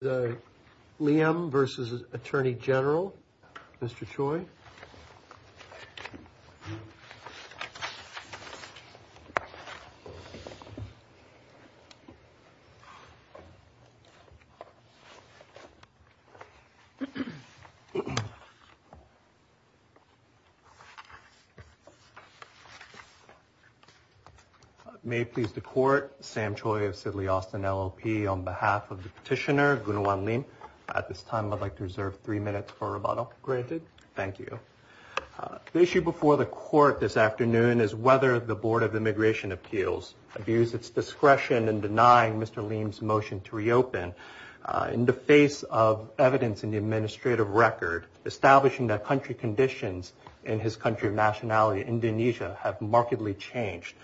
The Liem v. Attorney General, Mr. Choi. May it please the Court, Sam Choi of Sidley Austin LLP, on behalf of the petitioner, Gunawan Liem, at this time I'd like to reserve three minutes for rebuttal. The issue before the Court this afternoon is whether the Board of Immigration Appeals abused its discretion in denying Mr. Liem's motion to reopen. In the face of evidence in the administrative record, establishing that country conditions in his country of nationality, Indonesia, have markedly changed.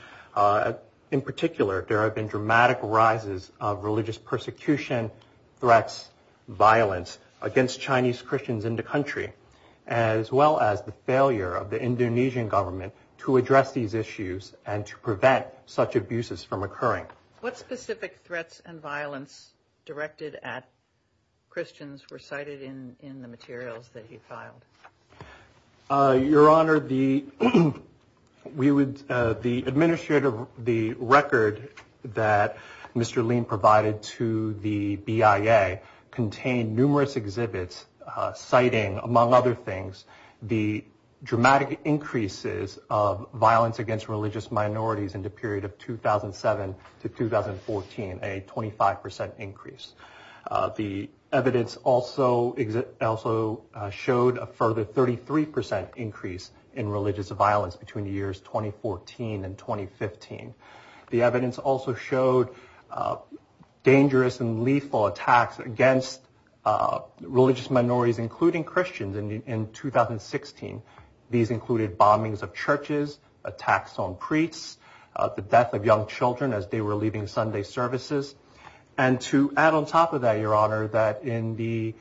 In particular, there have been dramatic rises of religious persecution, threats, violence against Chinese Christians in the country, as well as the failure of the Indonesian government to address these issues and to prevent such abuses from occurring. What specific threats and violence directed at Christians were cited in the materials that he filed? Your Honor, the administrative record that Mr. Liem provided to the BIA contained numerous exhibits citing, among other things, the dramatic increases of violence against religious minorities in the period of 2007 to 2014, a 25% increase. The evidence also showed a further 33% increase in religious violence between the years 2014 and 2015. The evidence also showed dangerous and lethal attacks against religious minorities, including Christians, in 2016. These included bombings of churches, attacks on priests, the death of young children as they were leaving Sunday services. And to add on top of that, Your Honor, that in the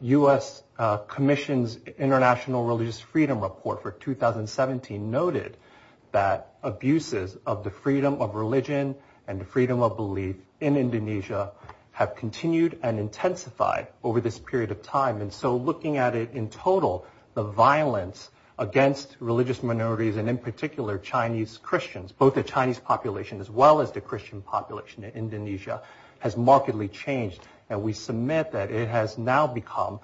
U.S. Commission's International Religious Freedom Report for 2017 noted that abuses of the freedom of religion and the freedom of belief in Indonesia have continued and intensified over this period of time. And so looking at it in total, the violence against religious minorities and, in particular, Chinese Christians, both the Chinese population as well as the Christian population in Indonesia, has markedly changed. And we submit that it has now become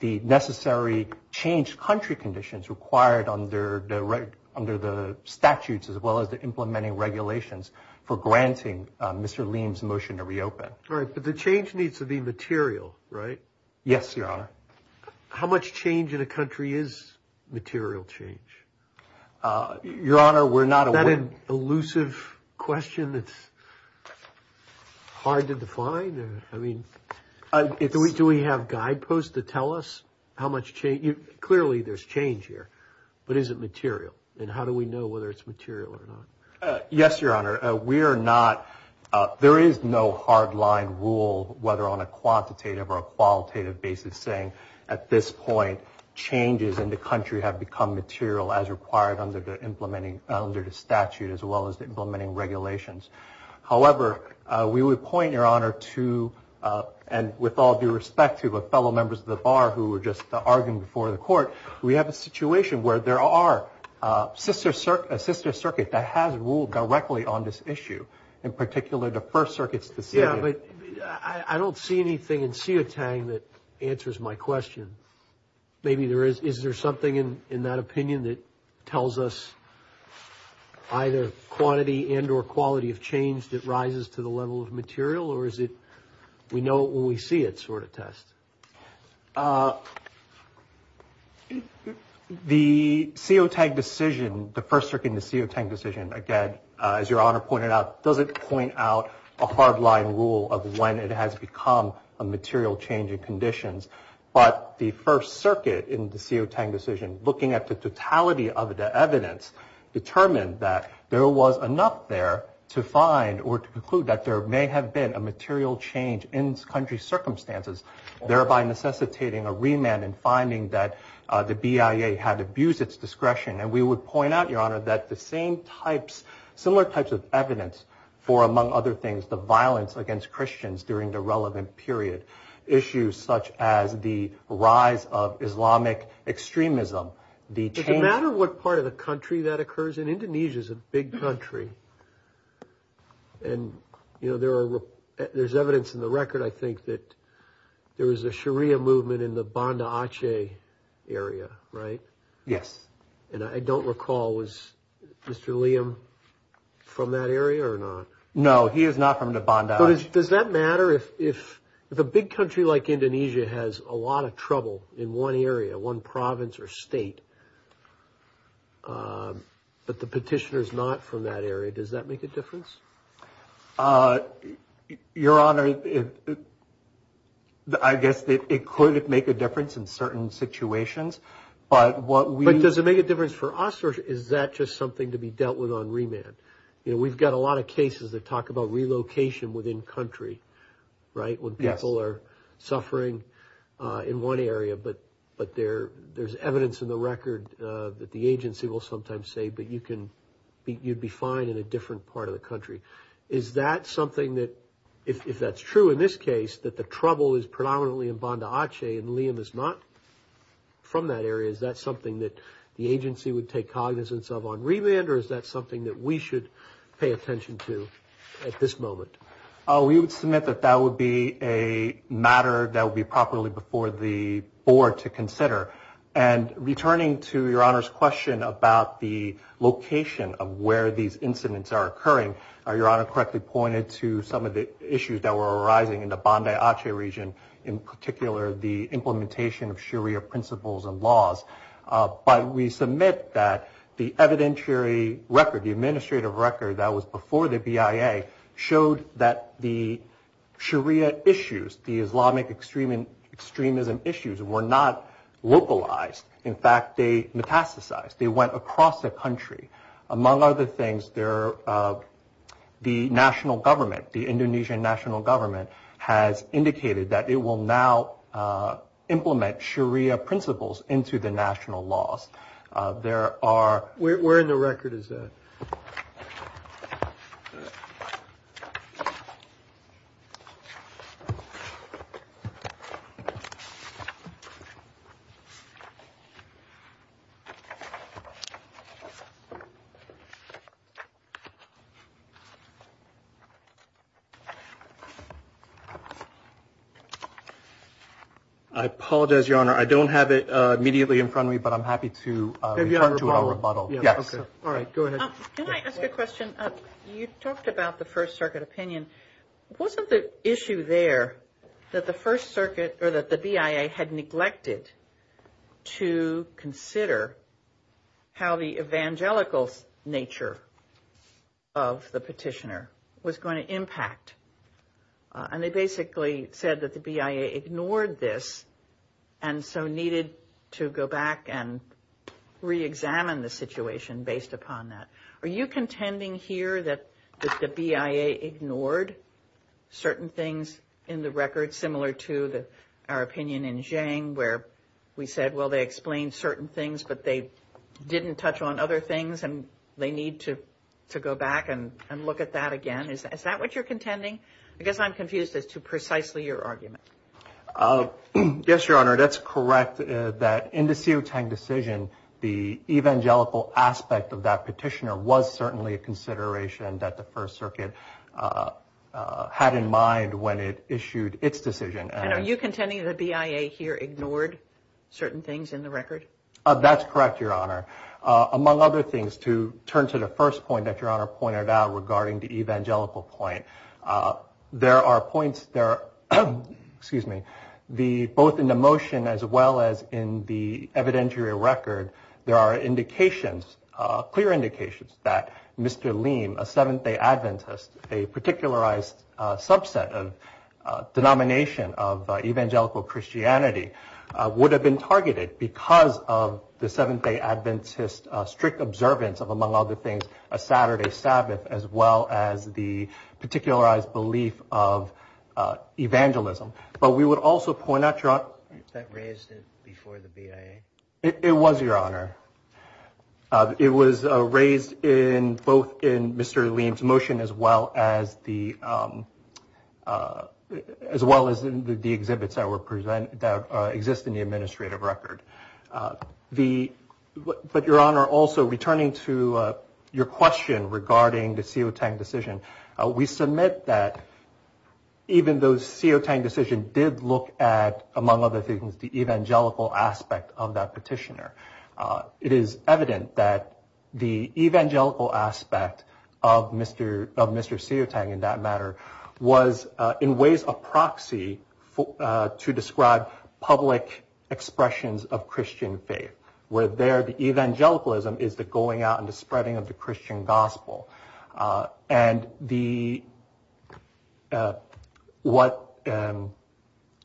the necessary changed country conditions required under the statutes as well as the implementing regulations for granting Mr. Liem's motion to reopen. All right. But the change needs to be material, right? Yes, Your Honor. How much change in a country is material change? Your Honor, we're not aware- Is that an elusive question that's hard to define? I mean, do we have guideposts to tell us how much change- clearly there's change here, but is it material? And how do we know whether it's material or not? Yes, Your Honor. We are not- there is no hard line rule whether on a quantitative or a qualitative basis saying at this point changes in the country have become material as required under the statute as well as the implementing regulations. However, we would point, Your Honor, to- and with all due respect to the fellow members of the Bar who were just arguing before the Court- we have a situation where there are a sister circuit that has ruled directly on this issue. In particular, the First Circuit's decision- Maybe there is- is there something in that opinion that tells us either quantity and or quality of change that rises to the level of material, or is it we know it when we see it sort of test? The COTAG decision, the First Circuit and the COTAG decision, again, as Your Honor pointed out, doesn't point out a hard line rule of when it has become a material change in conditions. But the First Circuit in the COTAG decision, looking at the totality of the evidence, determined that there was enough there to find or to conclude that there may have been a material change in country circumstances, thereby necessitating a remand and finding that the BIA had abused its discretion. And we would point out, Your Honor, that the same types- similar types of evidence for, among other things, the violence against Christians during the relevant period, issues such as the rise of Islamic extremism, the change- Does it matter what part of the country that occurs? And Indonesia is a big country. And, you know, there are- there's evidence in the record, I think, that there was a Sharia movement in the Banda Aceh area, right? Yes. And I don't recall, was Mr. Liam from that area or not? No, he is not from the Banda Aceh. Does that matter if a big country like Indonesia has a lot of trouble in one area, one province or state, but the petitioner is not from that area, does that make a difference? Your Honor, I guess it could make a difference in certain situations, but what we- But does it make a difference for us or is that just something to be dealt with on remand? You know, we've got a lot of cases that talk about relocation within country, right? Yes. When people are suffering in one area, but there's evidence in the record that the agency will sometimes say, but you can- you'd be fine in a different part of the country. Is that something that- if that's true in this case, that the trouble is predominantly in Banda Aceh and Liam is not from that area, is that something that the agency would take cognizance of on remand or is that something that we should pay attention to at this moment? We would submit that that would be a matter that would be properly before the board to consider. And returning to Your Honor's question about the location of where these incidents are occurring, Your Honor correctly pointed to some of the issues that were arising in the Banda Aceh region, in particular the implementation of Sharia principles and laws. But we submit that the evidentiary record, the administrative record that was before the BIA, showed that the Sharia issues, the Islamic extremism issues, were not localized. In fact, they metastasized. They went across the country. Among other things, the national government, the Indonesian national government, has indicated that it will now implement Sharia principles into the national laws. Where in the record is that? I apologize, Your Honor. I don't have it immediately in front of me, but I'm happy to respond to a rebuttal. Yes. All right. Go ahead. Can I ask a question? You talked about the First Circuit opinion. Wasn't the issue there that the First Circuit or that the BIA had neglected to consider how the evangelical nature of the petitioner was going to impact? And they basically said that the BIA ignored this and so needed to go back and reexamine the situation based upon that. Are you contending here that the BIA ignored certain things in the record, similar to our opinion in Jiang where we said, well, they explained certain things but they didn't touch on other things and they need to go back and look at that again? Is that what you're contending? I guess I'm confused as to precisely your argument. Yes, Your Honor. That's correct that in the Siu Tang decision, the evangelical aspect of that petitioner was certainly a consideration that the First Circuit had in mind when it issued its decision. And are you contending the BIA here ignored certain things in the record? That's correct, Your Honor. Among other things, to turn to the first point that Your Honor pointed out regarding the evangelical point, both in the motion as well as in the evidentiary record, there are indications, clear indications that Mr. Leem, a Seventh-day Adventist, a particularized subset of denomination of evangelical Christianity, would have been targeted because of the Seventh-day Adventist strict observance of, among other things, a Saturday Sabbath as well as the particularized belief of evangelism. But we would also point out, Your Honor. That raised it before the BIA. It was, Your Honor. It was raised both in Mr. Leem's motion as well as the exhibits that exist in the administrative record. But, Your Honor, also returning to your question regarding the Siotang decision, we submit that even though the Siotang decision did look at, among other things, the evangelical aspect of that petitioner, it is evident that the evangelical aspect of Mr. Siotang, in that matter, was in ways a proxy to describe public expressions of Christian faith, where there the evangelicalism is the going out and the spreading of the Christian gospel. And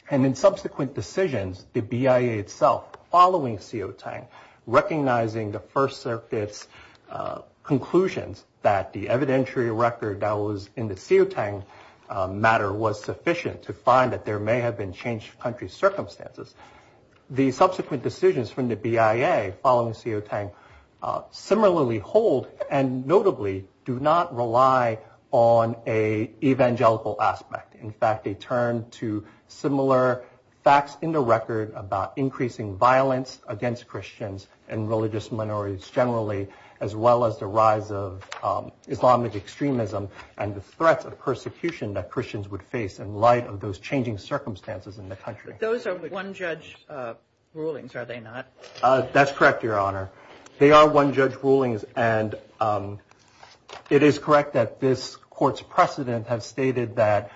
in subsequent decisions, the BIA itself, following Siotang, recognizing the First Circuit's conclusions that the evidentiary record that was in the Siotang matter was sufficient to find that there may have been changed country circumstances, the subsequent decisions from the BIA following Siotang similarly hold and notably do not rely on an evangelical aspect. In fact, they turn to similar facts in the record about increasing violence against Christians and religious minorities generally as well as the rise of Islamic extremism and the threats of persecution that Christians would face in light of those changing circumstances in the country. But those are one-judge rulings, are they not? That's correct, Your Honor. They are one-judge rulings, and it is correct that this Court's precedent has stated that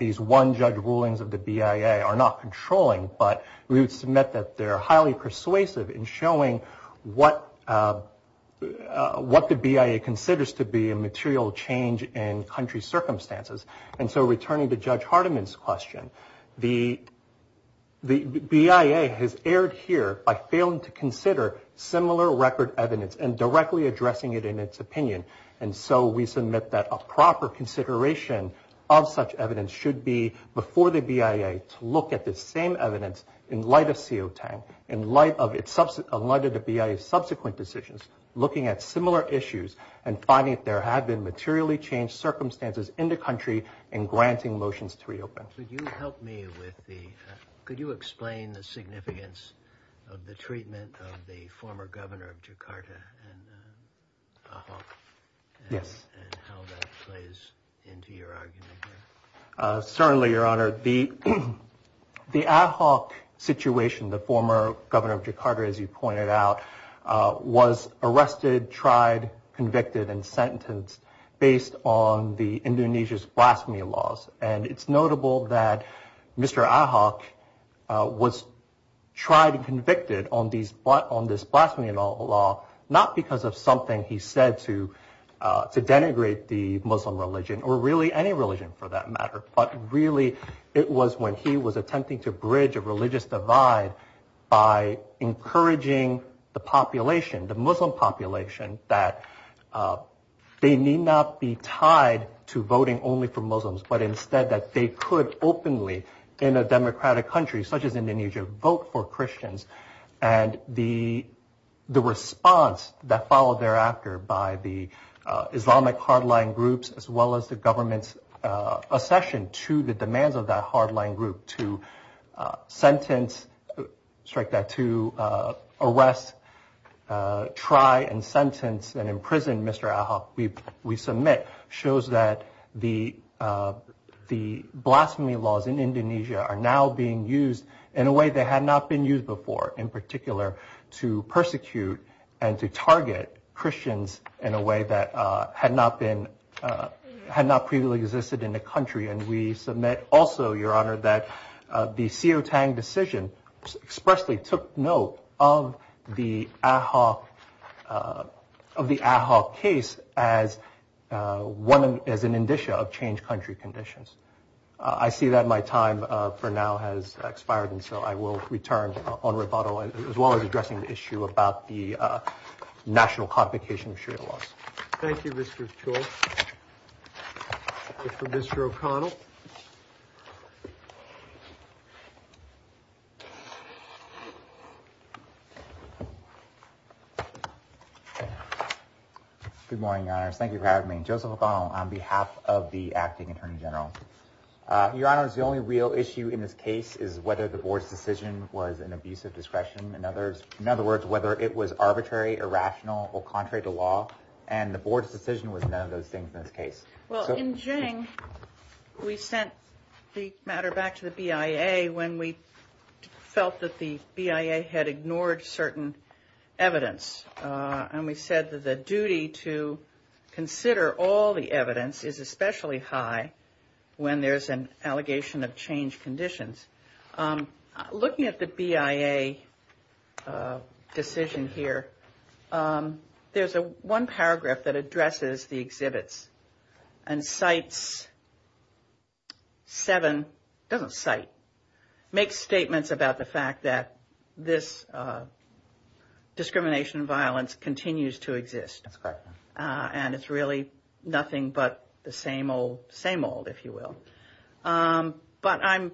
these one-judge rulings of the BIA are not controlling, but we would submit that they are highly persuasive in showing what the BIA considers to be a material change in country circumstances. And so returning to Judge Hardiman's question, the BIA has erred here by failing to consider similar record evidence and directly addressing it in its opinion. And so we submit that a proper consideration of such evidence should be before the BIA to look at the same evidence in light of CO10, in light of the BIA's subsequent decisions, looking at similar issues and finding if there have been materially changed circumstances in the country and granting motions to reopen. Could you help me with the – could you explain the significance of the treatment of the former governor of Jakarta, and how that plays into your argument here? Certainly, Your Honor. The Ahok situation, the former governor of Jakarta, as you pointed out, was arrested, tried, convicted, and sentenced based on the Indonesia's blasphemy laws. And it's notable that Mr. Ahok was tried and convicted on this blasphemy law, not because of something he said to denigrate the Muslim religion or really any religion for that matter, but really it was when he was attempting to bridge a religious divide by encouraging the population, the Muslim population, that they need not be tied to voting only for Muslims, but instead that they could openly, in a democratic country such as Indonesia, vote for Christians. And the response that followed thereafter by the Islamic hardline groups as well as the government's accession to the demands of that hardline group to sentence – strike that – to arrest, try, and sentence, and imprison Mr. Ahok, we submit, shows that the blasphemy laws in Indonesia are now being used in a way they had not been used before, in particular to persecute and to target Christians in a way that had not been – had not previously existed in the country. And we submit also, Your Honor, that the Sio Tang decision expressly took note of the Ahok – of the Ahok case as one – as an indicia of changed country conditions. I see that my time for now has expired, and so I will return on rebuttal as well as addressing the issue about the national complication of Sharia laws. Thank you, Mr. Chou. We'll go to Mr. O'Connell. Good morning, Your Honors. Thank you for having me. Joseph O'Connell on behalf of the Acting Attorney General. Your Honors, the only real issue in this case is whether the board's decision was an abuse of discretion and others – in other words, whether it was arbitrary, irrational, or contrary to law. And the board's decision was none of those things in this case. Well, in Geng, we sent the matter back to the BIA when we felt that the BIA had ignored certain evidence. And we said that the duty to consider all the evidence is especially high when there's an allegation of changed conditions. Looking at the BIA decision here, there's one paragraph that addresses the exhibits and cites seven – doesn't cite – makes statements about the fact that this discrimination and violence continues to exist. That's correct. And it's really nothing but the same old, same old, if you will. But I'm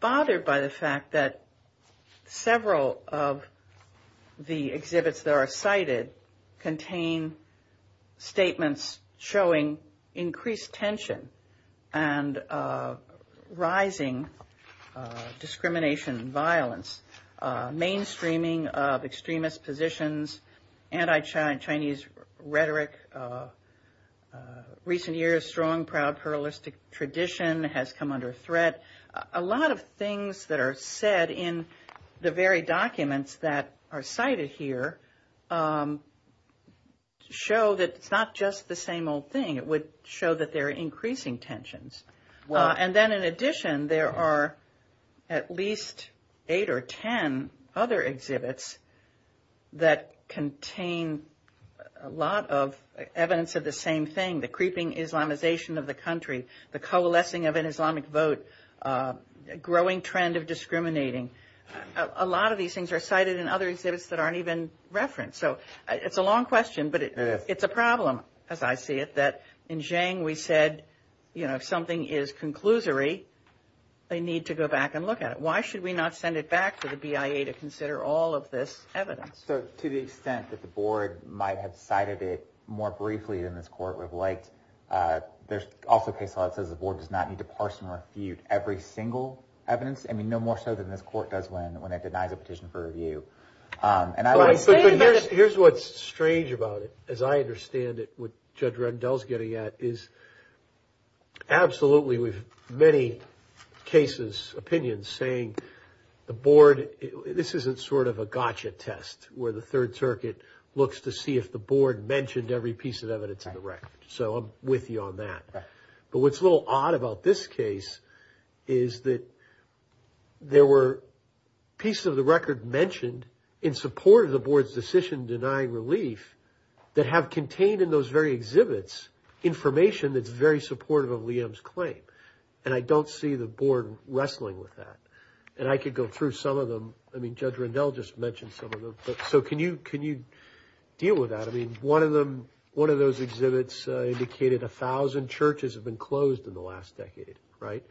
bothered by the fact that several of the exhibits that are cited contain statements showing increased tension and rising discrimination and violence, mainstreaming of extremist positions, anti-Chinese rhetoric, recent years' strong, proud, pluralistic tradition has come under threat. A lot of things that are said in the very documents that are cited here show that it's not just the same old thing. It would show that there are increasing tensions. And then in addition, there are at least eight or ten other exhibits that contain a lot of evidence of the same thing, the creeping Islamization of the country, the coalescing of an Islamic vote, a growing trend of discriminating. A lot of these things are cited in other exhibits that aren't even referenced. So it's a long question, but it's a problem, as I see it, that in Jiang we said, you know, if something is conclusory, they need to go back and look at it. Why should we not send it back to the BIA to consider all of this evidence? So to the extent that the board might have cited it more briefly than this court would have liked, there's also a case law that says the board does not need to parse and refute every single evidence, I mean, no more so than this court does when it denies a petition for review. Here's what's strange about it, as I understand it, what Judge Rendell's getting at is absolutely with many cases, opinions, saying the board, this isn't sort of a gotcha test where the Third Circuit looks to see if the board mentioned every piece of evidence in the record. So I'm with you on that. But what's a little odd about this case is that there were pieces of the record mentioned in support of the board's decision denying relief that have contained in those very exhibits information that's very supportive of Liam's claim. And I don't see the board wrestling with that. And I could go through some of them. I mean, Judge Rendell just mentioned some of them. So can you deal with that? I mean, one of those exhibits indicated 1,000 churches have been closed in the last decade, right?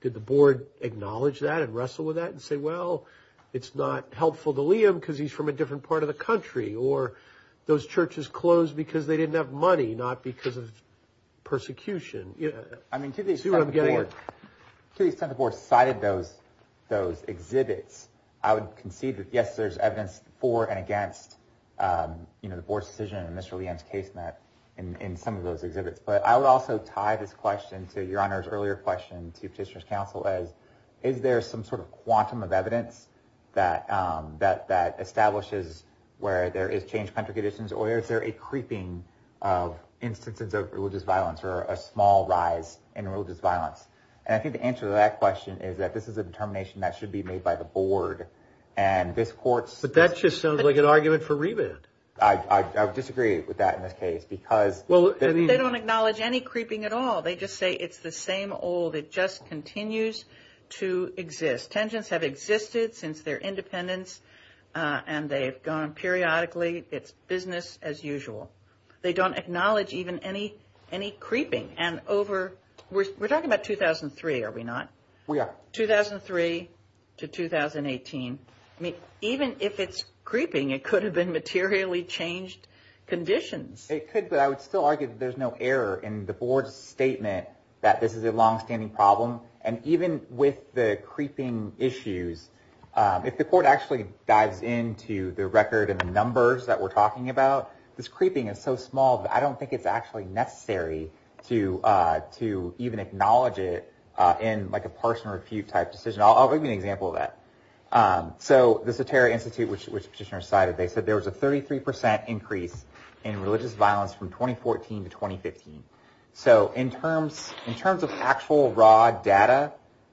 Did the board acknowledge that and wrestle with that and say, well, it's not helpful to Liam because he's from a different part of the country, or those churches closed because they didn't have money, not because of persecution? I mean, to the extent the board cited those exhibits, I would concede that, yes, there's evidence for and against the board's decision and Mr. Liam's case in some of those exhibits. But I would also tie this question to Your Honor's earlier question to Petitioner's Counsel as, is there some sort of quantum of evidence that establishes where there is changed country conditions, or is there a creeping of instances of religious violence or a small rise in religious violence? And I think the answer to that question is that this is a determination that should be made by the board. But that just sounds like an argument for rebid. I disagree with that in this case. Well, they don't acknowledge any creeping at all. They just say it's the same old. It just continues to exist. Tengents have existed since their independence, and they've gone periodically. It's business as usual. They don't acknowledge even any creeping. And we're talking about 2003, are we not? We are. 2003 to 2018. I mean, even if it's creeping, it could have been materially changed conditions. It could, but I would still argue that there's no error in the board's statement that this is a longstanding problem. And even with the creeping issues, if the court actually dives into the record and the numbers that we're talking about, this creeping is so small that I don't think it's actually necessary to even acknowledge it in like a parse and refute type decision. I'll give you an example of that. So the Soterra Institute, which the petitioner cited, they said there was a 33% increase in religious violence from 2014 to 2015. So in terms of actual raw data,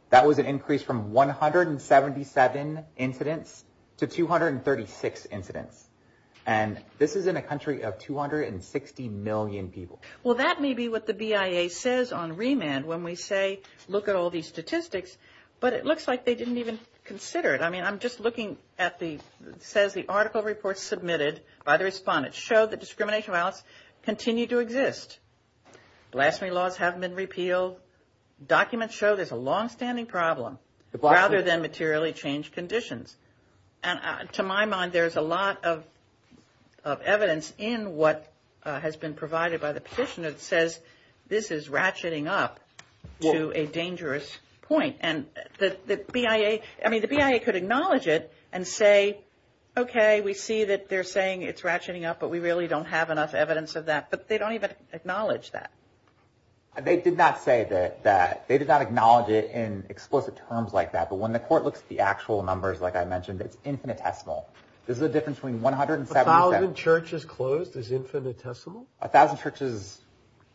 that was an increase from 177 incidents to 236 incidents. And this is in a country of 260 million people. Well, that may be what the BIA says on remand when we say look at all these statistics, but it looks like they didn't even consider it. I mean, I'm just looking at the – it says the article report submitted by the respondents showed that discrimination violence continued to exist. Blasphemy laws haven't been repealed. Documents show there's a longstanding problem rather than materially changed conditions. And to my mind, there's a lot of evidence in what has been provided by the petitioner that says this is ratcheting up to a dangerous point. And the BIA – I mean, the BIA could acknowledge it and say, okay, we see that they're saying it's ratcheting up, but we really don't have enough evidence of that. But they don't even acknowledge that. They did not say that – they did not acknowledge it in explicit terms like that. But when the court looks at the actual numbers, like I mentioned, it's infinitesimal. This is a difference between 170 – A thousand churches closed is infinitesimal? A thousand churches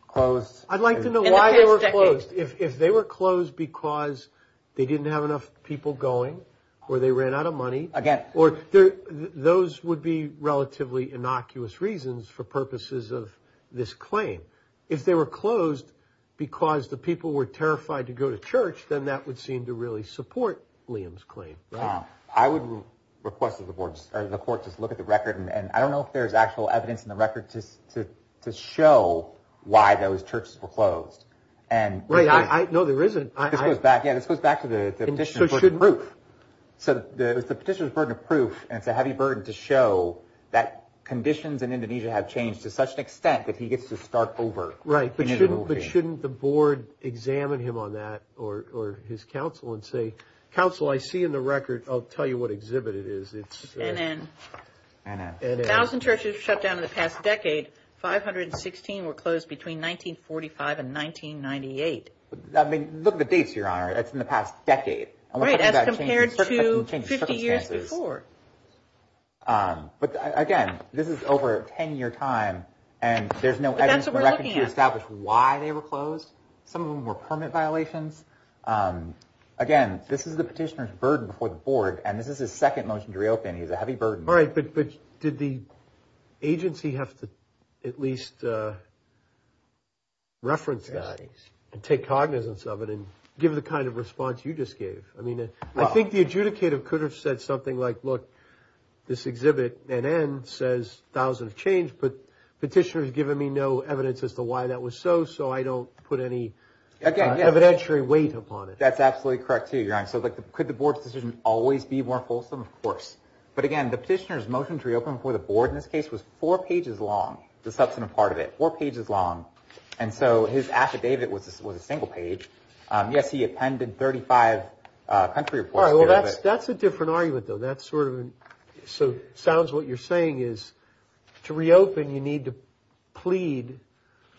closed – I'd like to know why they were closed. In the past decade. If they were closed because they didn't have enough people going or they ran out of money – Again – Those would be relatively innocuous reasons for purposes of this claim. If they were closed because the people were terrified to go to church, then that would seem to really support Liam's claim. I would request that the court just look at the record. And I don't know if there's actual evidence in the record to show why those churches were closed. No, there isn't. This goes back to the petitioner's burden of proof. So the petitioner's burden of proof, and it's a heavy burden to show that conditions in Indonesia have changed to such an extent that he gets to start over. But shouldn't the board examine him on that or his counsel and say, Counsel, I see in the record – I'll tell you what exhibit it is. It's – NN. NN. A thousand churches shut down in the past decade. 516 were closed between 1945 and 1998. I mean, look at the dates, Your Honor. That's in the past decade. Right, as compared to 50 years before. But again, this is over a 10-year time, and there's no evidence in the record to establish why they were closed. Some of them were permit violations. Again, this is the petitioner's burden before the board, and this is his second motion to reopen. He has a heavy burden. All right, but did the agency have to at least reference that and take cognizance of it and give the kind of response you just gave? I mean, I think the adjudicator could have said something like, look, this exhibit, NN, says thousands have changed, but the petitioner has given me no evidence as to why that was so, so I don't put any evidentiary weight upon it. That's absolutely correct, too, Your Honor. So could the board's decision always be more wholesome? Of course. But again, the petitioner's motion to reopen before the board in this case was four pages long, the substantive part of it, four pages long. And so his affidavit was a single page. Yes, he appended 35 country reports. All right, well, that's a different argument, though. That's sort of – so it sounds like what you're saying is to reopen, you need to plead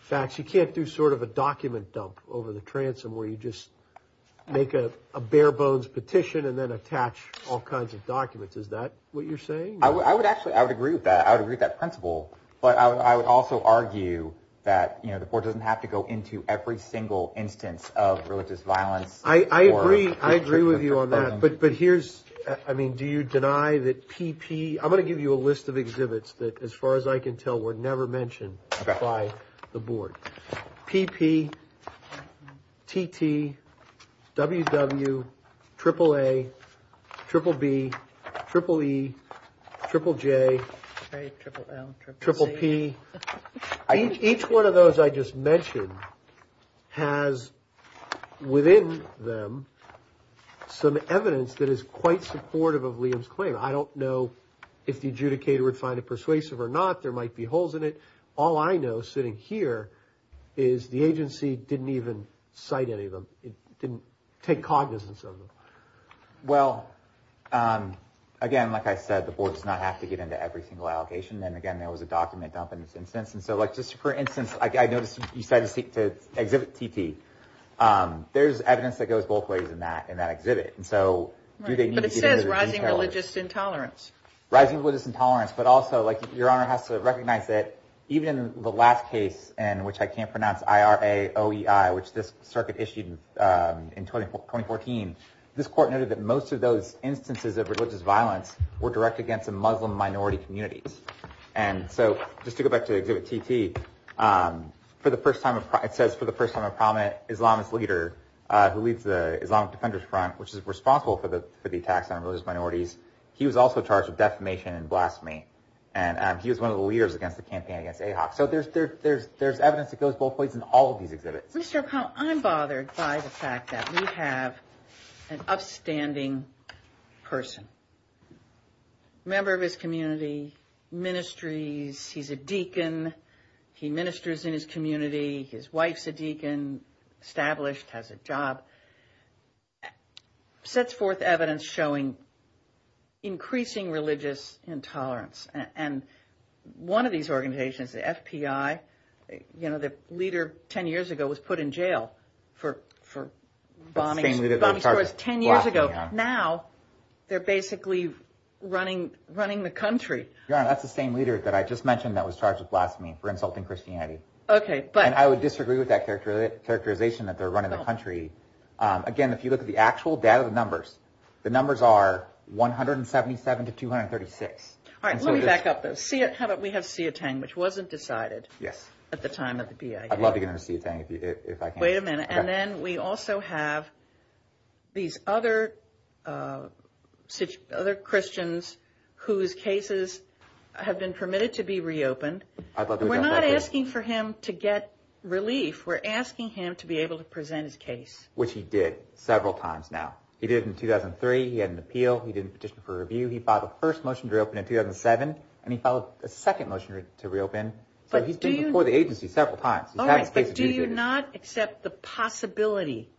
facts. You can't do sort of a document dump over the transom where you just make a bare-bones petition and then attach all kinds of documents. Is that what you're saying? I would actually – I would agree with that. I would agree with that principle. But I would also argue that, you know, the board doesn't have to go into every single instance of religious violence. I agree. I agree with you on that. But here's – I mean, do you deny that PP – I'm going to give you a list of exhibits that, as far as I can tell, were never mentioned by the board. PP, TT, WW, triple A, triple B, triple E, triple J, triple P. Each one of those I just mentioned has within them some evidence that is quite supportive of Liam's claim. I don't know if the adjudicator would find it persuasive or not. There might be holes in it. All I know, sitting here, is the agency didn't even cite any of them. It didn't take cognizance of them. Well, again, like I said, the board does not have to get into every single allocation. And, again, there was a document dump in this instance. And so, like, just for instance, I noticed you said to exhibit TT. There's evidence that goes both ways in that exhibit. But it says rising religious intolerance. Rising religious intolerance. But also, like, Your Honor has to recognize that even the last case in which I can't pronounce I-R-A-O-E-I, which this circuit issued in 2014, this court noted that most of those instances of religious violence were direct against Muslim minority communities. And so, just to go back to exhibit TT, for the first time – it says, for the first time in Parliament, Islamist leader who leads the Islamic Defenders Front, which is responsible for the attacks on religious minorities, he was also charged with defamation and blasphemy. And he was one of the leaders against the campaign against AIHOC. So there's evidence that goes both ways in all of these exhibits. Mr. O'Connell, I'm bothered by the fact that we have an upstanding person, member of his community, ministries. He's a deacon. He ministers in his community. His wife's a deacon, established, has a job. Sets forth evidence showing increasing religious intolerance. And one of these organizations, the F.P.I., you know, the leader 10 years ago was put in jail for bombing – The same leader that was charged with blasphemy, Your Honor. Now they're basically running the country. Your Honor, that's the same leader that I just mentioned that was charged with blasphemy for insulting Christianity. Okay, but – And I would disagree with that characterization that they're running the country. Again, if you look at the actual data, the numbers, the numbers are 177 to 236. All right, let me back up, though. How about we have Sia Teng, which wasn't decided at the time of the BIA. I'd love to get into Sia Teng if I can. Wait a minute. And then we also have these other Christians whose cases have been permitted to be reopened. We're not asking for him to get relief. We're asking him to be able to present his case. Which he did several times now. He did it in 2003. He had an appeal. He did a petition for review. He filed the first motion to reopen in 2007, and he filed a second motion to reopen. So he's been before the agency several times. All right, but do you not accept the possibility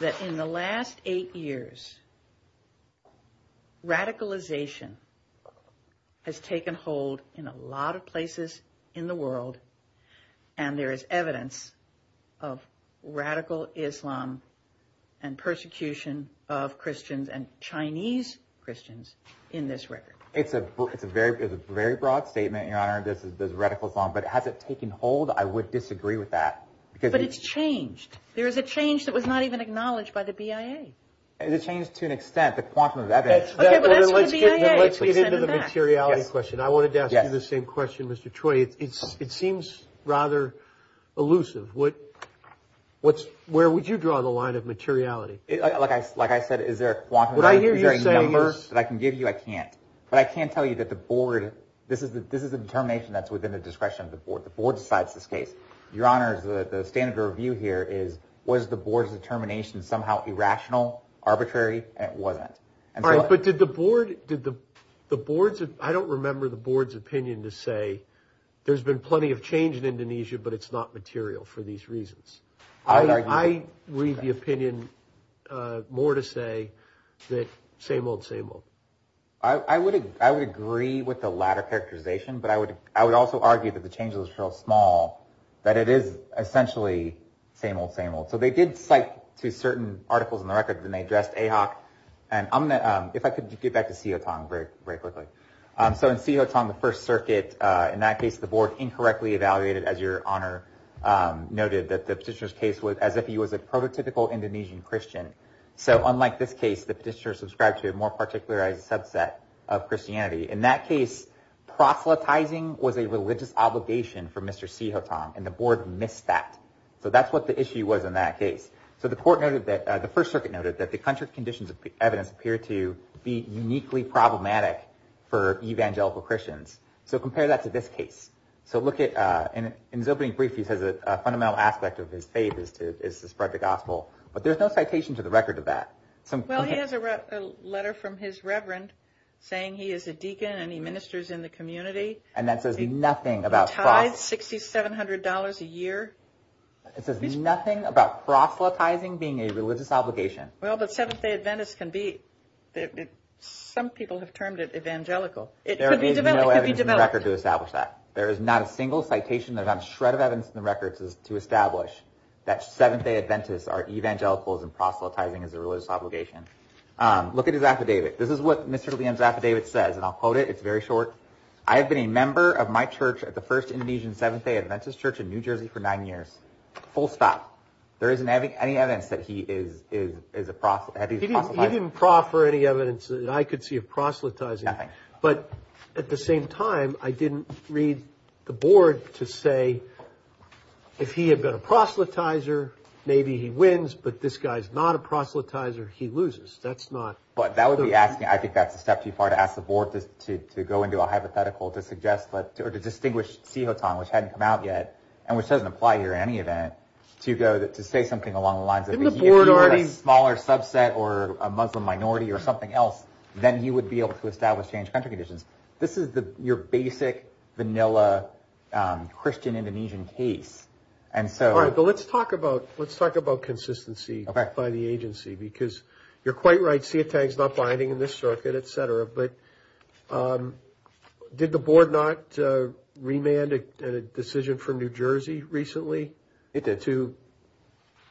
that in the last eight years, radicalization has taken hold in a lot of places in the world, and there is evidence of radical Islam and persecution of Christians and Chinese Christians in this record? It's a very broad statement, Your Honor, this radical Islam. But has it taken hold? I would disagree with that. But it's changed. There is a change that was not even acknowledged by the BIA. It's changed to an extent, the quantum of evidence. Okay, but let's get into the materiality question. I wanted to ask you the same question, Mr. Troy. It seems rather elusive. Where would you draw the line of materiality? Like I said, is there a quantum of evidence? Is there a number that I can give you? I can't. But I can tell you that the board, this is a determination that's within the discretion of the board. The board decides this case. Your Honor, the standard of review here is, was the board's determination somehow irrational, arbitrary? It wasn't. All right, but did the board, did the board's, I don't remember the board's opinion to say, there's been plenty of change in Indonesia, but it's not material for these reasons. I read the opinion more to say that same old, same old. I would agree with the latter characterization, but I would also argue that the change was real small, that it is essentially same old, same old. So they did cite to certain articles in the record, and they addressed AHOC. And I'm going to, if I could get back to Sihotong very quickly. So in Sihotong, the First Circuit, in that case, the board incorrectly evaluated, as Your Honor noted, that the petitioner's case was as if he was a prototypical Indonesian Christian. So unlike this case, the petitioner is subscribed to a more particularized subset of Christianity. In that case, proselytizing was a religious obligation for Mr. Sihotong, and the board missed that. So that's what the issue was in that case. So the court noted that, the First Circuit noted, that the contrary conditions of the evidence appear to be uniquely problematic for evangelical Christians. So compare that to this case. So look at, in his opening brief, he says a fundamental aspect of his faith is to spread the gospel. But there's no citation to the record of that. Well, he has a letter from his reverend saying he is a deacon and he ministers in the community. And that says nothing about proselytizing. He tithes $6,700 a year. It says nothing about proselytizing being a religious obligation. Well, but Seventh-day Adventists can be, some people have termed it evangelical. There is no evidence in the record to establish that. There is not a single citation, not a shred of evidence in the record to establish that Seventh-day Adventists are evangelicals and proselytizing is a religious obligation. Look at his affidavit. This is what Mr. Leung's affidavit says, and I'll quote it. It's very short. I have been a member of my church at the First Indonesian Seventh-day Adventist Church in New Jersey for nine years. Full stop. There isn't any evidence that he is a proselytizer. He didn't proffer any evidence that I could see of proselytizing. Nothing. But at the same time, I didn't read the board to say if he had been a proselytizer, maybe he wins, but this guy is not a proselytizer, he loses. That's not. But that would be asking. I think that's a step too far to ask the board to go into a hypothetical to suggest, or to distinguish Sihotong, which hadn't come out yet, and which doesn't apply here in any event, to say something along the lines of if he were a smaller subset or a Muslim minority or something else, then he would be able to establish changed country conditions. This is your basic vanilla Christian Indonesian case. All right. But let's talk about consistency by the agency because you're quite right. Sihotong is not binding in this circuit, et cetera. But did the board not remand a decision from New Jersey recently to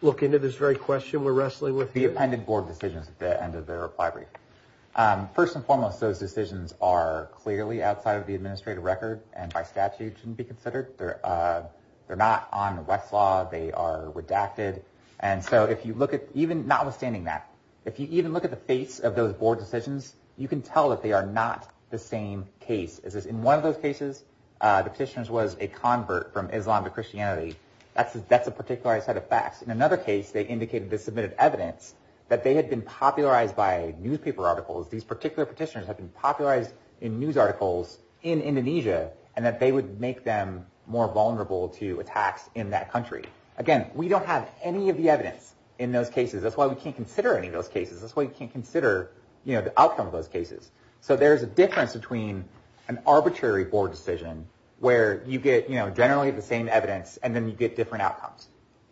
look into this very question we're wrestling with here? They appended board decisions at the end of their reply brief. First and foremost, those decisions are clearly outside of the administrative record, and by statute shouldn't be considered. They're not on Westlaw. They are redacted. And so if you look at even notwithstanding that, if you even look at the face of those board decisions, you can tell that they are not the same case. In one of those cases, the petitioner was a convert from Islam to Christianity. That's a particular set of facts. In another case, they indicated they submitted evidence that they had been popularized by newspaper articles. These particular petitioners had been popularized in news articles in Indonesia and that they would make them more vulnerable to attacks in that country. Again, we don't have any of the evidence in those cases. That's why we can't consider any of those cases. That's why we can't consider the outcome of those cases. So there's a difference between an arbitrary board decision where you get generally the same evidence and then you get different outcomes.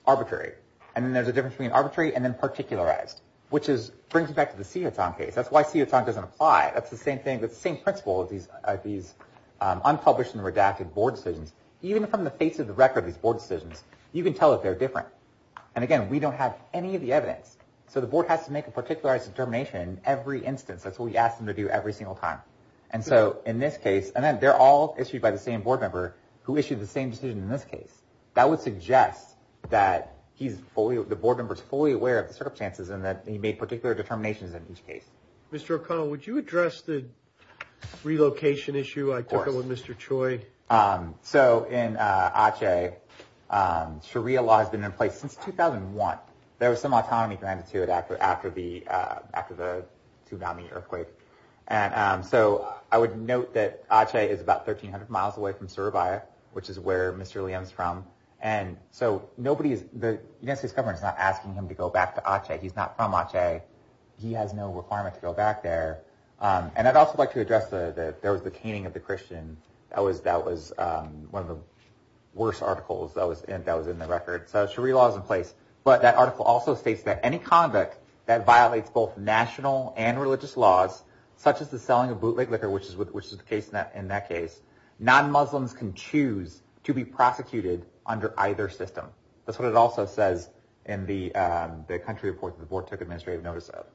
Arbitrary. And then there's a difference between arbitrary and then particularized, which brings me back to the Sihutong case. That's why Sihutong doesn't apply. That's the same principle of these unpublished and redacted board decisions. Even from the face of the record of these board decisions, you can tell that they're different. And again, we don't have any of the evidence. So the board has to make a particularized determination in every instance. That's what we ask them to do every single time. And then they're all issued by the same board member who issued the same decision in this case. That would suggest that the board member is fully aware of the circumstances and that he made particular determinations in each case. Mr. O'Connell, would you address the relocation issue I took up with Mr. Choi? So in Aceh, Sharia law has been in place since 2001. There was some autonomy granted to it after the tsunami earthquake. So I would note that Aceh is about 1,300 miles away from Surabaya, which is where Mr. Leung is from. The United States government is not asking him to go back to Aceh. He's not from Aceh. He has no requirement to go back there. And I'd also like to address that there was the caning of the Christian. That was one of the worst articles that was in the record. So Sharia law is in place. But that article also states that any convict that violates both national and religious laws, such as the selling of bootleg liquor, which is the case in that case, non-Muslims can choose to be prosecuted under either system. That's what it also says in the country report that the board took administrative notice of.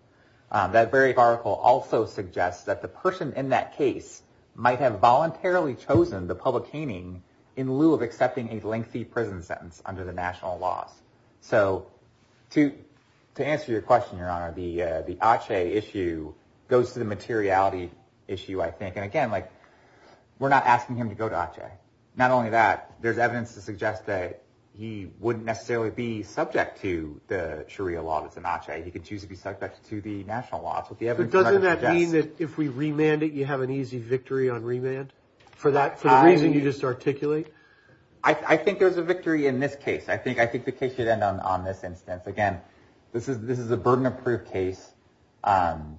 That very article also suggests that the person in that case might have voluntarily chosen the public caning in lieu of accepting a lengthy prison sentence under the national laws. So to answer your question, Your Honor, the Aceh issue goes to the materiality issue, I think. And again, like, we're not asking him to go to Aceh. Not only that, there's evidence to suggest that he wouldn't necessarily be subject to the Sharia law that's in Aceh. He could choose to be subject to the national laws. But doesn't that mean that if we remand it, you have an easy victory on remand for the reason you just articulate? I think there's a victory in this case. I think the case should end on this instance. Again, this is a burden-approved case. Mr.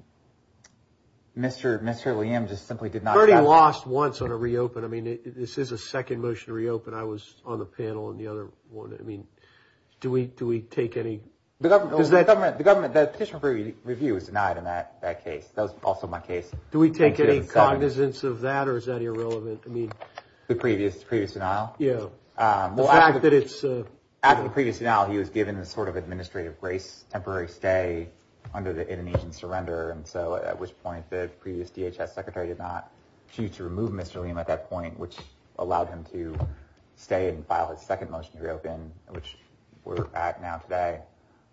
Liam just simply did not- Bernie lost once on a reopen. I mean, this is a second motion to reopen. I was on the panel on the other one. I mean, do we take any- The government, the petition for review was denied in that case. That was also my case. Do we take any cognizance of that, or is that irrelevant? The previous denial? Yeah. The fact that it's- After the previous denial, he was given this sort of administrative grace, temporary stay under the Indonesian surrender, at which point the previous DHS secretary did not choose to remove Mr. Liam at that point, which allowed him to stay and file his second motion to reopen, which we're at now today.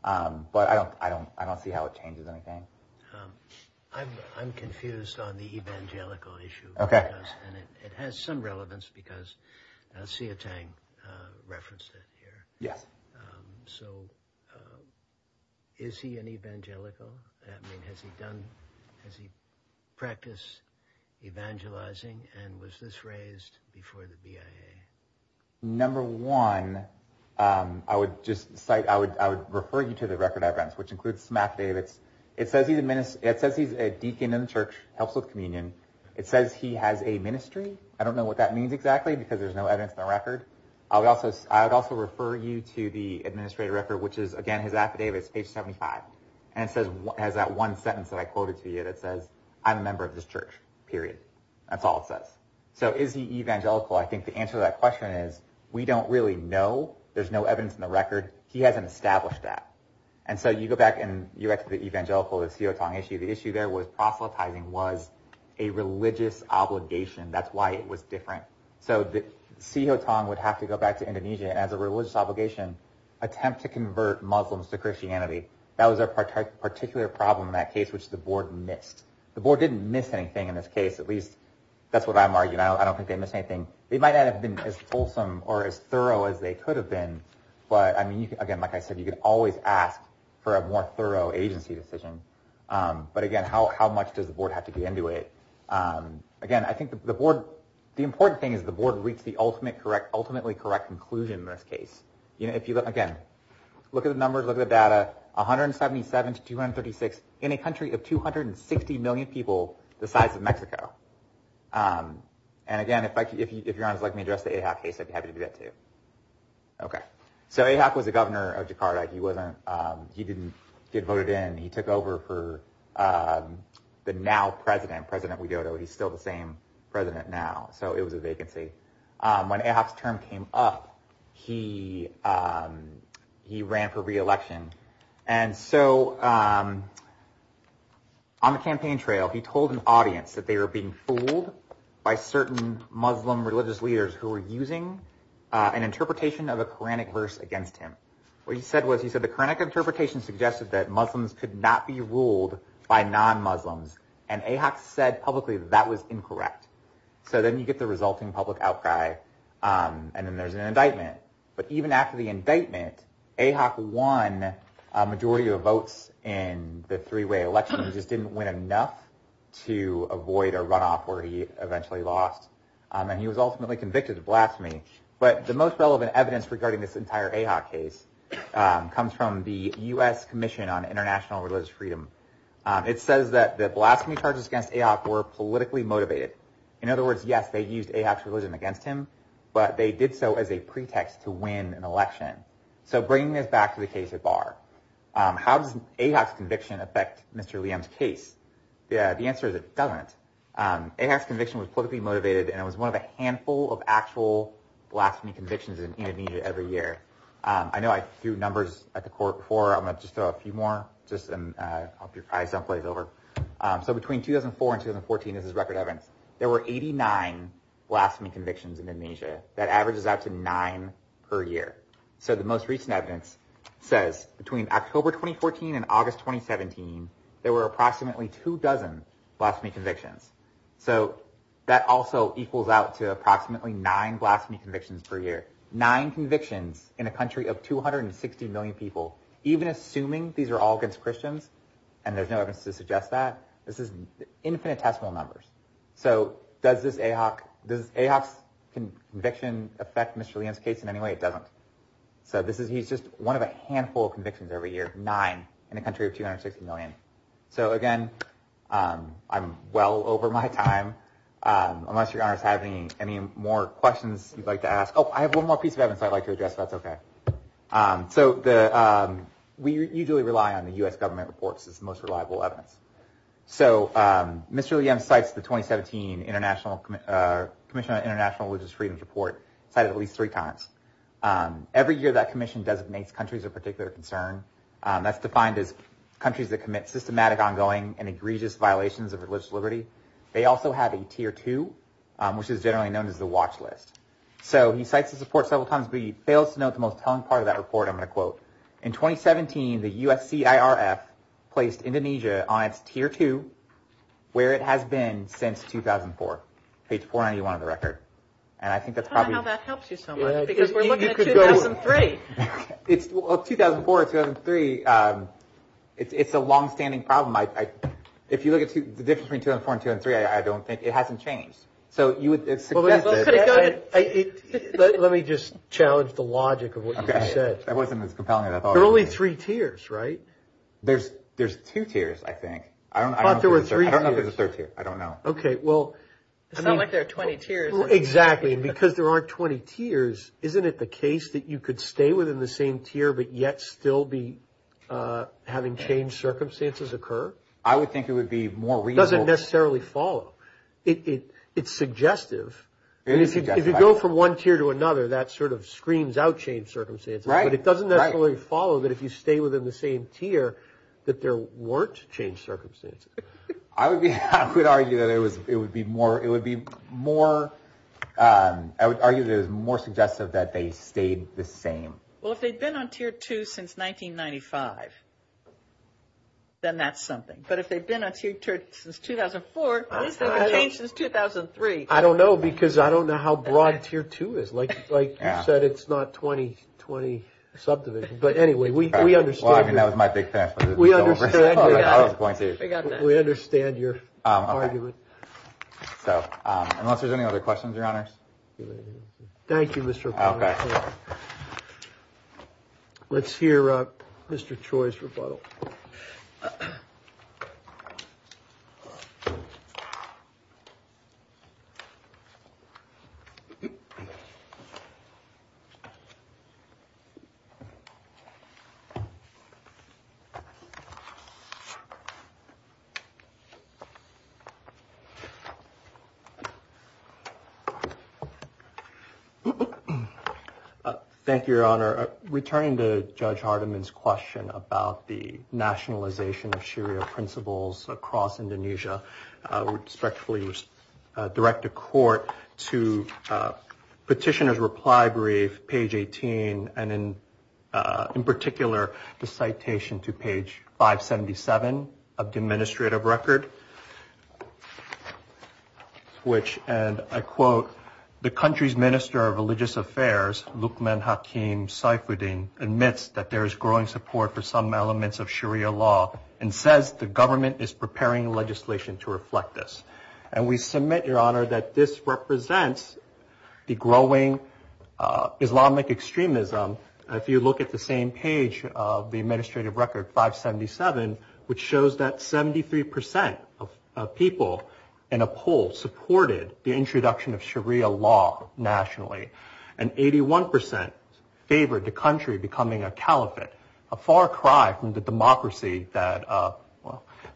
But I don't see how it changes anything. I'm confused on the evangelical issue. Okay. It has some relevance because Sia Tang referenced it here. Yes. So is he an evangelical? I mean, has he done- Has he practiced evangelizing, and was this raised before the BIA? Number one, I would just cite- I would refer you to the record I've read, which includes Samath Davids. It says he's a deacon in the church, helps with communion. It says he has a ministry. I don't know what that means exactly because there's no evidence in the record. I would also refer you to the administrative record, which is, again, his affidavit. It's page 75, and it has that one sentence that I quoted to you that says, I'm a member of this church, period. That's all it says. So is he evangelical? I think the answer to that question is we don't really know. There's no evidence in the record. He hasn't established that. And so you go back and you go back to the evangelical, the Sia Tang issue. The issue there was proselytizing was a religious obligation. That's why it was different. Sia Tang would have to go back to Indonesia as a religious obligation, attempt to convert Muslims to Christianity. That was a particular problem in that case, which the board missed. The board didn't miss anything in this case, at least that's what I'm arguing. I don't think they missed anything. They might not have been as fulsome or as thorough as they could have been, but again, like I said, you can always ask for a more thorough agency decision. But again, how much does the board have to get into it? Again, I think the important thing is the board reached the ultimately correct conclusion in this case. Again, look at the numbers, look at the data. 177 to 236 in a country of 260 million people the size of Mexico. And again, if Your Honor would like me to address the Ahok case, I'd be happy to do that too. So Ahok was the governor of Jakarta. He didn't get voted in. He took over for the now president, President Widodo. He's still the same president now, so it was a vacancy. When Ahok's term came up, he ran for re-election. And so on the campaign trail, he told an audience that they were being fooled by certain Muslim religious leaders who were using an interpretation of a Koranic verse against him. What he said was he said the Koranic interpretation suggested that Muslims could not be ruled by non-Muslims, and Ahok said publicly that that was incorrect. So then you get the resulting public outcry, and then there's an indictment. But even after the indictment, Ahok won a majority of votes in the three-way election. He just didn't win enough to avoid a runoff where he eventually lost, and he was ultimately convicted of blasphemy. But the most relevant evidence regarding this entire Ahok case comes from the U.S. Commission on International Religious Freedom. It says that the blasphemy charges against Ahok were politically motivated. In other words, yes, they used Ahok's religion against him, but they did so as a pretext to win an election. So bringing this back to the case at bar, how does Ahok's conviction affect Mr. Liam's case? The answer is it doesn't. Ahok's conviction was politically motivated, and it was one of a handful of actual blasphemy convictions in Indonesia every year. I know I threw numbers at the court before. I'm going to just throw a few more, just to help your eyes don't glaze over. So between 2004 and 2014, this is record evidence, there were 89 blasphemy convictions in Indonesia. That averages out to nine per year. So the most recent evidence says between October 2014 and August 2017, there were approximately two dozen blasphemy convictions. So that also equals out to approximately nine blasphemy convictions per year. Nine convictions in a country of 260 million people, even assuming these are all against Christians, and there's no evidence to suggest that, this is infinitesimal numbers. So does Ahok's conviction affect Mr. Liam's case in any way? It doesn't. So he's just one of a handful of convictions every year. Nine in a country of 260 million. So again, I'm well over my time. Unless your Honor is having any more questions you'd like to ask. Oh, I have one more piece of evidence I'd like to address, if that's okay. So we usually rely on the U.S. government reports as the most reliable evidence. So Mr. Liam cites the 2017 Commission on International Religious Freedoms report, cited at least three times. Every year that commission designates countries of particular concern. That's defined as countries that commit systematic, ongoing, and egregious violations of religious liberty. They also have a tier two, which is generally known as the watch list. So he cites this report several times, but he fails to note the most telling part of that report I'm going to quote. In 2017, the USCIRF placed Indonesia on its tier two, where it has been since 2004. Page 491 of the record. And I think that's probably... I don't know how that helps you so much. Because we're looking at 2003. It's 2004 or 2003. It's a long-standing problem. If you look at the difference between 2004 and 2003, I don't think it hasn't changed. So you would suggest that... Let me just challenge the logic of what you said. That wasn't as compelling as I thought it would be. There are only three tiers, right? There's two tiers, I think. I thought there were three tiers. I don't know if there's a third tier. I don't know. Okay, well... It's not like there are 20 tiers. Exactly. And because there aren't 20 tiers, isn't it the case that you could stay within the same tier but yet still be having changed circumstances occur? I would think it would be more reasonable... It doesn't necessarily follow. It's suggestive. It is suggestive. If you go from one tier to another, that sort of screams out changed circumstances. Right. But it doesn't necessarily follow that if you stay within the same tier, that there weren't changed circumstances. I would argue that it would be more... I would argue that it is more suggestive that they stayed the same. Well, if they've been on tier 2 since 1995, then that's something. But if they've been on tier 2 since 2004, at least they haven't changed since 2003. I don't know because I don't know how broad tier 2 is. Like you said, it's not 20 subdivisions. But anyway, we understand... I mean, that was my big finish. We understand your argument. Unless there's any other questions, Your Honors? Thank you, Mr. O'Connor. Okay. Let's hear Mr. Choi's rebuttal. Thank you, Your Honor. Returning to Judge Hardiman's question about the nationalization of Sharia principles across Indonesia, I would respectfully direct the court to petitioner's reply brief, page 18, and in particular the citation to page 577 of the administrative record, which, and I quote, the country's minister of religious affairs, Luqman Hakim Saifuddin, admits that there is growing support for some elements of Sharia law and says the government is preparing legislation to reflect this. And we submit, Your Honor, that this represents the growing Islamic extremism. If you look at the same page of the administrative record, 577, which shows that 73% of people in a poll supported the introduction of Sharia law nationally and 81% favored the country becoming a caliphate, a far cry from the democracy that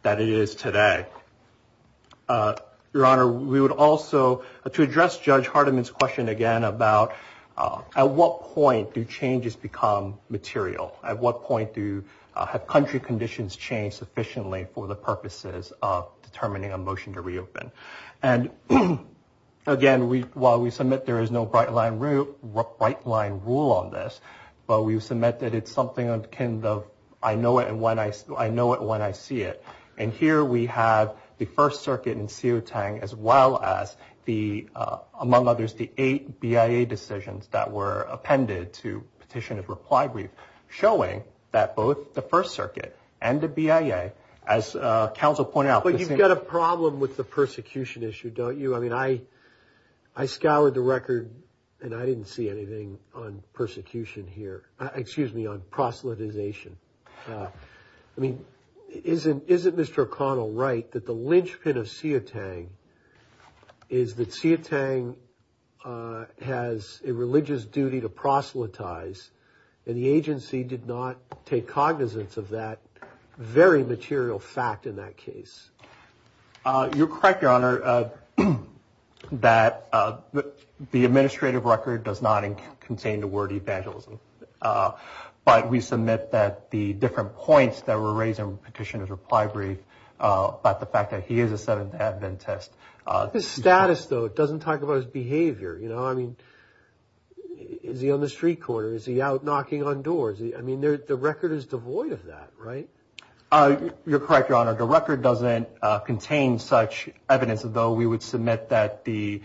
it is today. Your Honor, we would also, to address Judge Hardiman's question again about at what point do changes become material? At what point do country conditions change sufficiently for the purposes of determining a motion to reopen? And again, while we submit there is no bright line rule on this, but we submit that it's something akin to I know it when I see it. And here we have the First Circuit in Siu Tang as well as the, among others, the eight BIA decisions that were appended to Petitioner's Reply Brief, showing that both the First Circuit and the BIA, as counsel pointed out. But you've got a problem with the persecution issue, don't you? I mean, I scoured the record and I didn't see anything on persecution here. Excuse me, on proselytization. I mean, isn't Mr. O'Connell right that the linchpin of Siu Tang is that Siu Tang has a religious duty to proselytize and the agency did not take cognizance of that very material fact in that case? You're correct, Your Honor, that the administrative record does not contain the word evangelism. But we submit that the different points that were raised in Petitioner's Reply Brief about the fact that he is a 7th Adventist. His status, though, doesn't talk about his behavior. You know, I mean, is he on the street corner? Is he out knocking on doors? I mean, the record is devoid of that, right? You're correct, Your Honor. The record doesn't contain such evidence, though. We would submit that the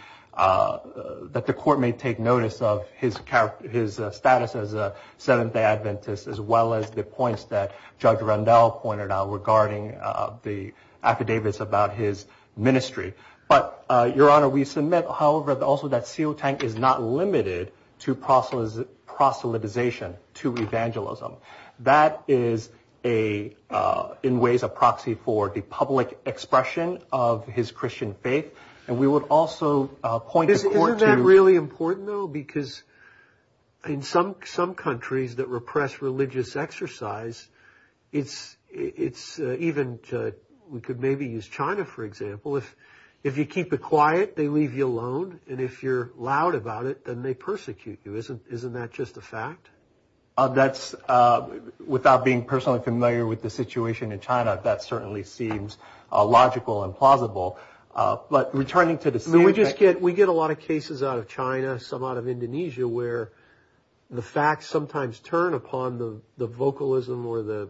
court may take notice of his status as a 7th Adventist, as well as the points that Judge Randall pointed out regarding the affidavits about his ministry. But, Your Honor, we submit, however, also that Siu Tang is not limited to proselytization, to evangelism. That is, in ways, a proxy for the public expression of his Christian faith. And we would also point the court to… Isn't that really important, though? Because in some countries that repress religious exercise, it's even… We could maybe use China, for example. If you keep it quiet, they leave you alone. And if you're loud about it, then they persecute you. Isn't that just a fact? Without being personally familiar with the situation in China, that certainly seems logical and plausible. But returning to the Siu Tang… We get a lot of cases out of China, some out of Indonesia, where the facts sometimes turn upon the vocalism or the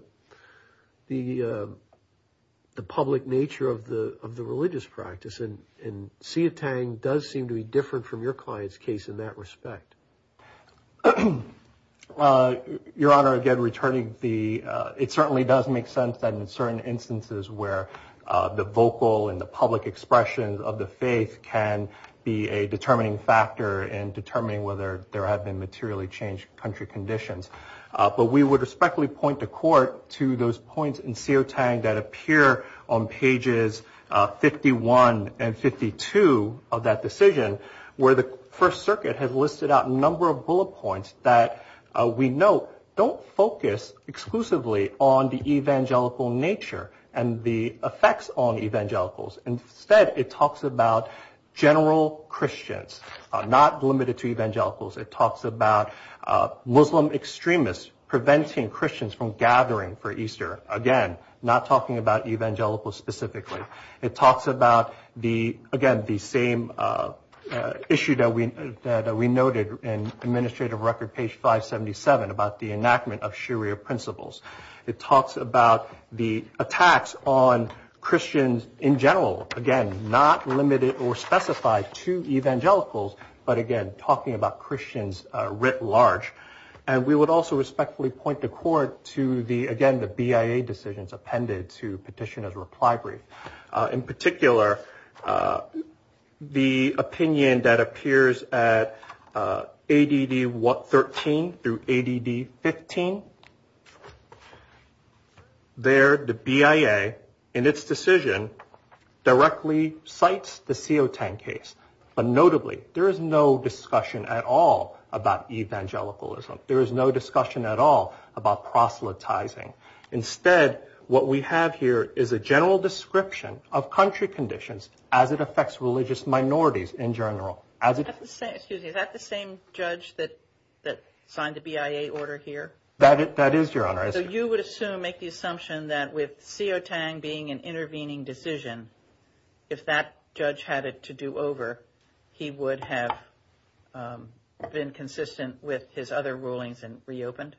public nature of the religious practice. And Siu Tang does seem to be different from your client's case in that respect. Your Honor, again, returning the… It certainly does make sense that in certain instances where the vocal and the public expression of the faith can be a determining factor in determining whether there have been materially changed country conditions. But we would respectfully point the court to those points in Siu Tang that appear on pages 51 and 52 of that decision, where the First Circuit has listed out a number of bullet points that we note don't focus exclusively on the evangelical nature and the effects on evangelicals. Instead, it talks about general Christians, not limited to evangelicals. It talks about Muslim extremists preventing Christians from gathering for Easter. Again, not talking about evangelicals specifically. It talks about, again, the same issue that we noted in administrative record, page 577, about the enactment of Sharia principles. It talks about the attacks on Christians in general. Again, not limited or specified to evangelicals, but again, talking about Christians writ large. And we would also respectfully point the court to, again, the BIA decisions appended to petitioners' reply brief. In particular, the opinion that appears at ADD 13 through ADD 15. There, the BIA, in its decision, directly cites the Siu Tang case. But notably, there is no discussion at all about evangelicalism. There is no discussion at all about proselytizing. Instead, what we have here is a general description of country conditions as it affects religious minorities in general. Excuse me, is that the same judge that signed the BIA order here? That is, Your Honor. So you would assume, make the assumption that with Siu Tang being an intervening decision, if that judge had it to do over, he would have been consistent with his other rulings and reopened?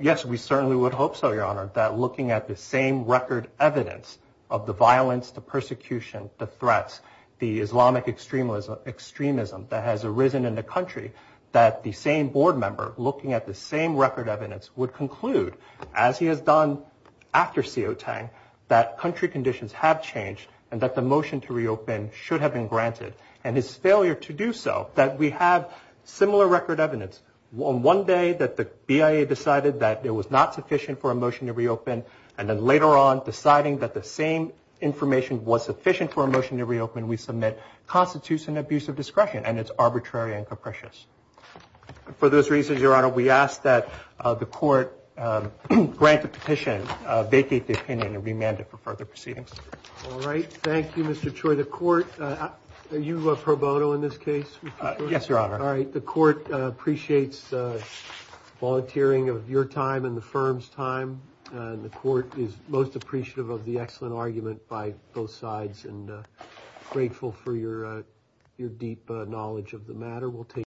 Yes, we certainly would hope so, Your Honor. That looking at the same record evidence of the violence, the persecution, the threats, the Islamic extremism that has arisen in the country, that the same board member looking at the same record evidence would conclude, as he has done after Siu Tang, that country conditions have changed and that the motion to reopen should have been granted. And his failure to do so, that we have similar record evidence. One day that the BIA decided that it was not sufficient for a motion to reopen, and then later on deciding that the same information was sufficient for a motion to reopen, we submit constitutes an abuse of discretion, and it's arbitrary and capricious. For those reasons, Your Honor, we ask that the court grant the petition, vacate the opinion, and remand it for further proceedings. All right. Thank you, Mr. Choi. The court, are you pro bono in this case? Yes, Your Honor. All right. The court appreciates volunteering of your time and the firm's time, and the court is most appreciative of the excellent argument by both sides and grateful for your deep knowledge of the matter.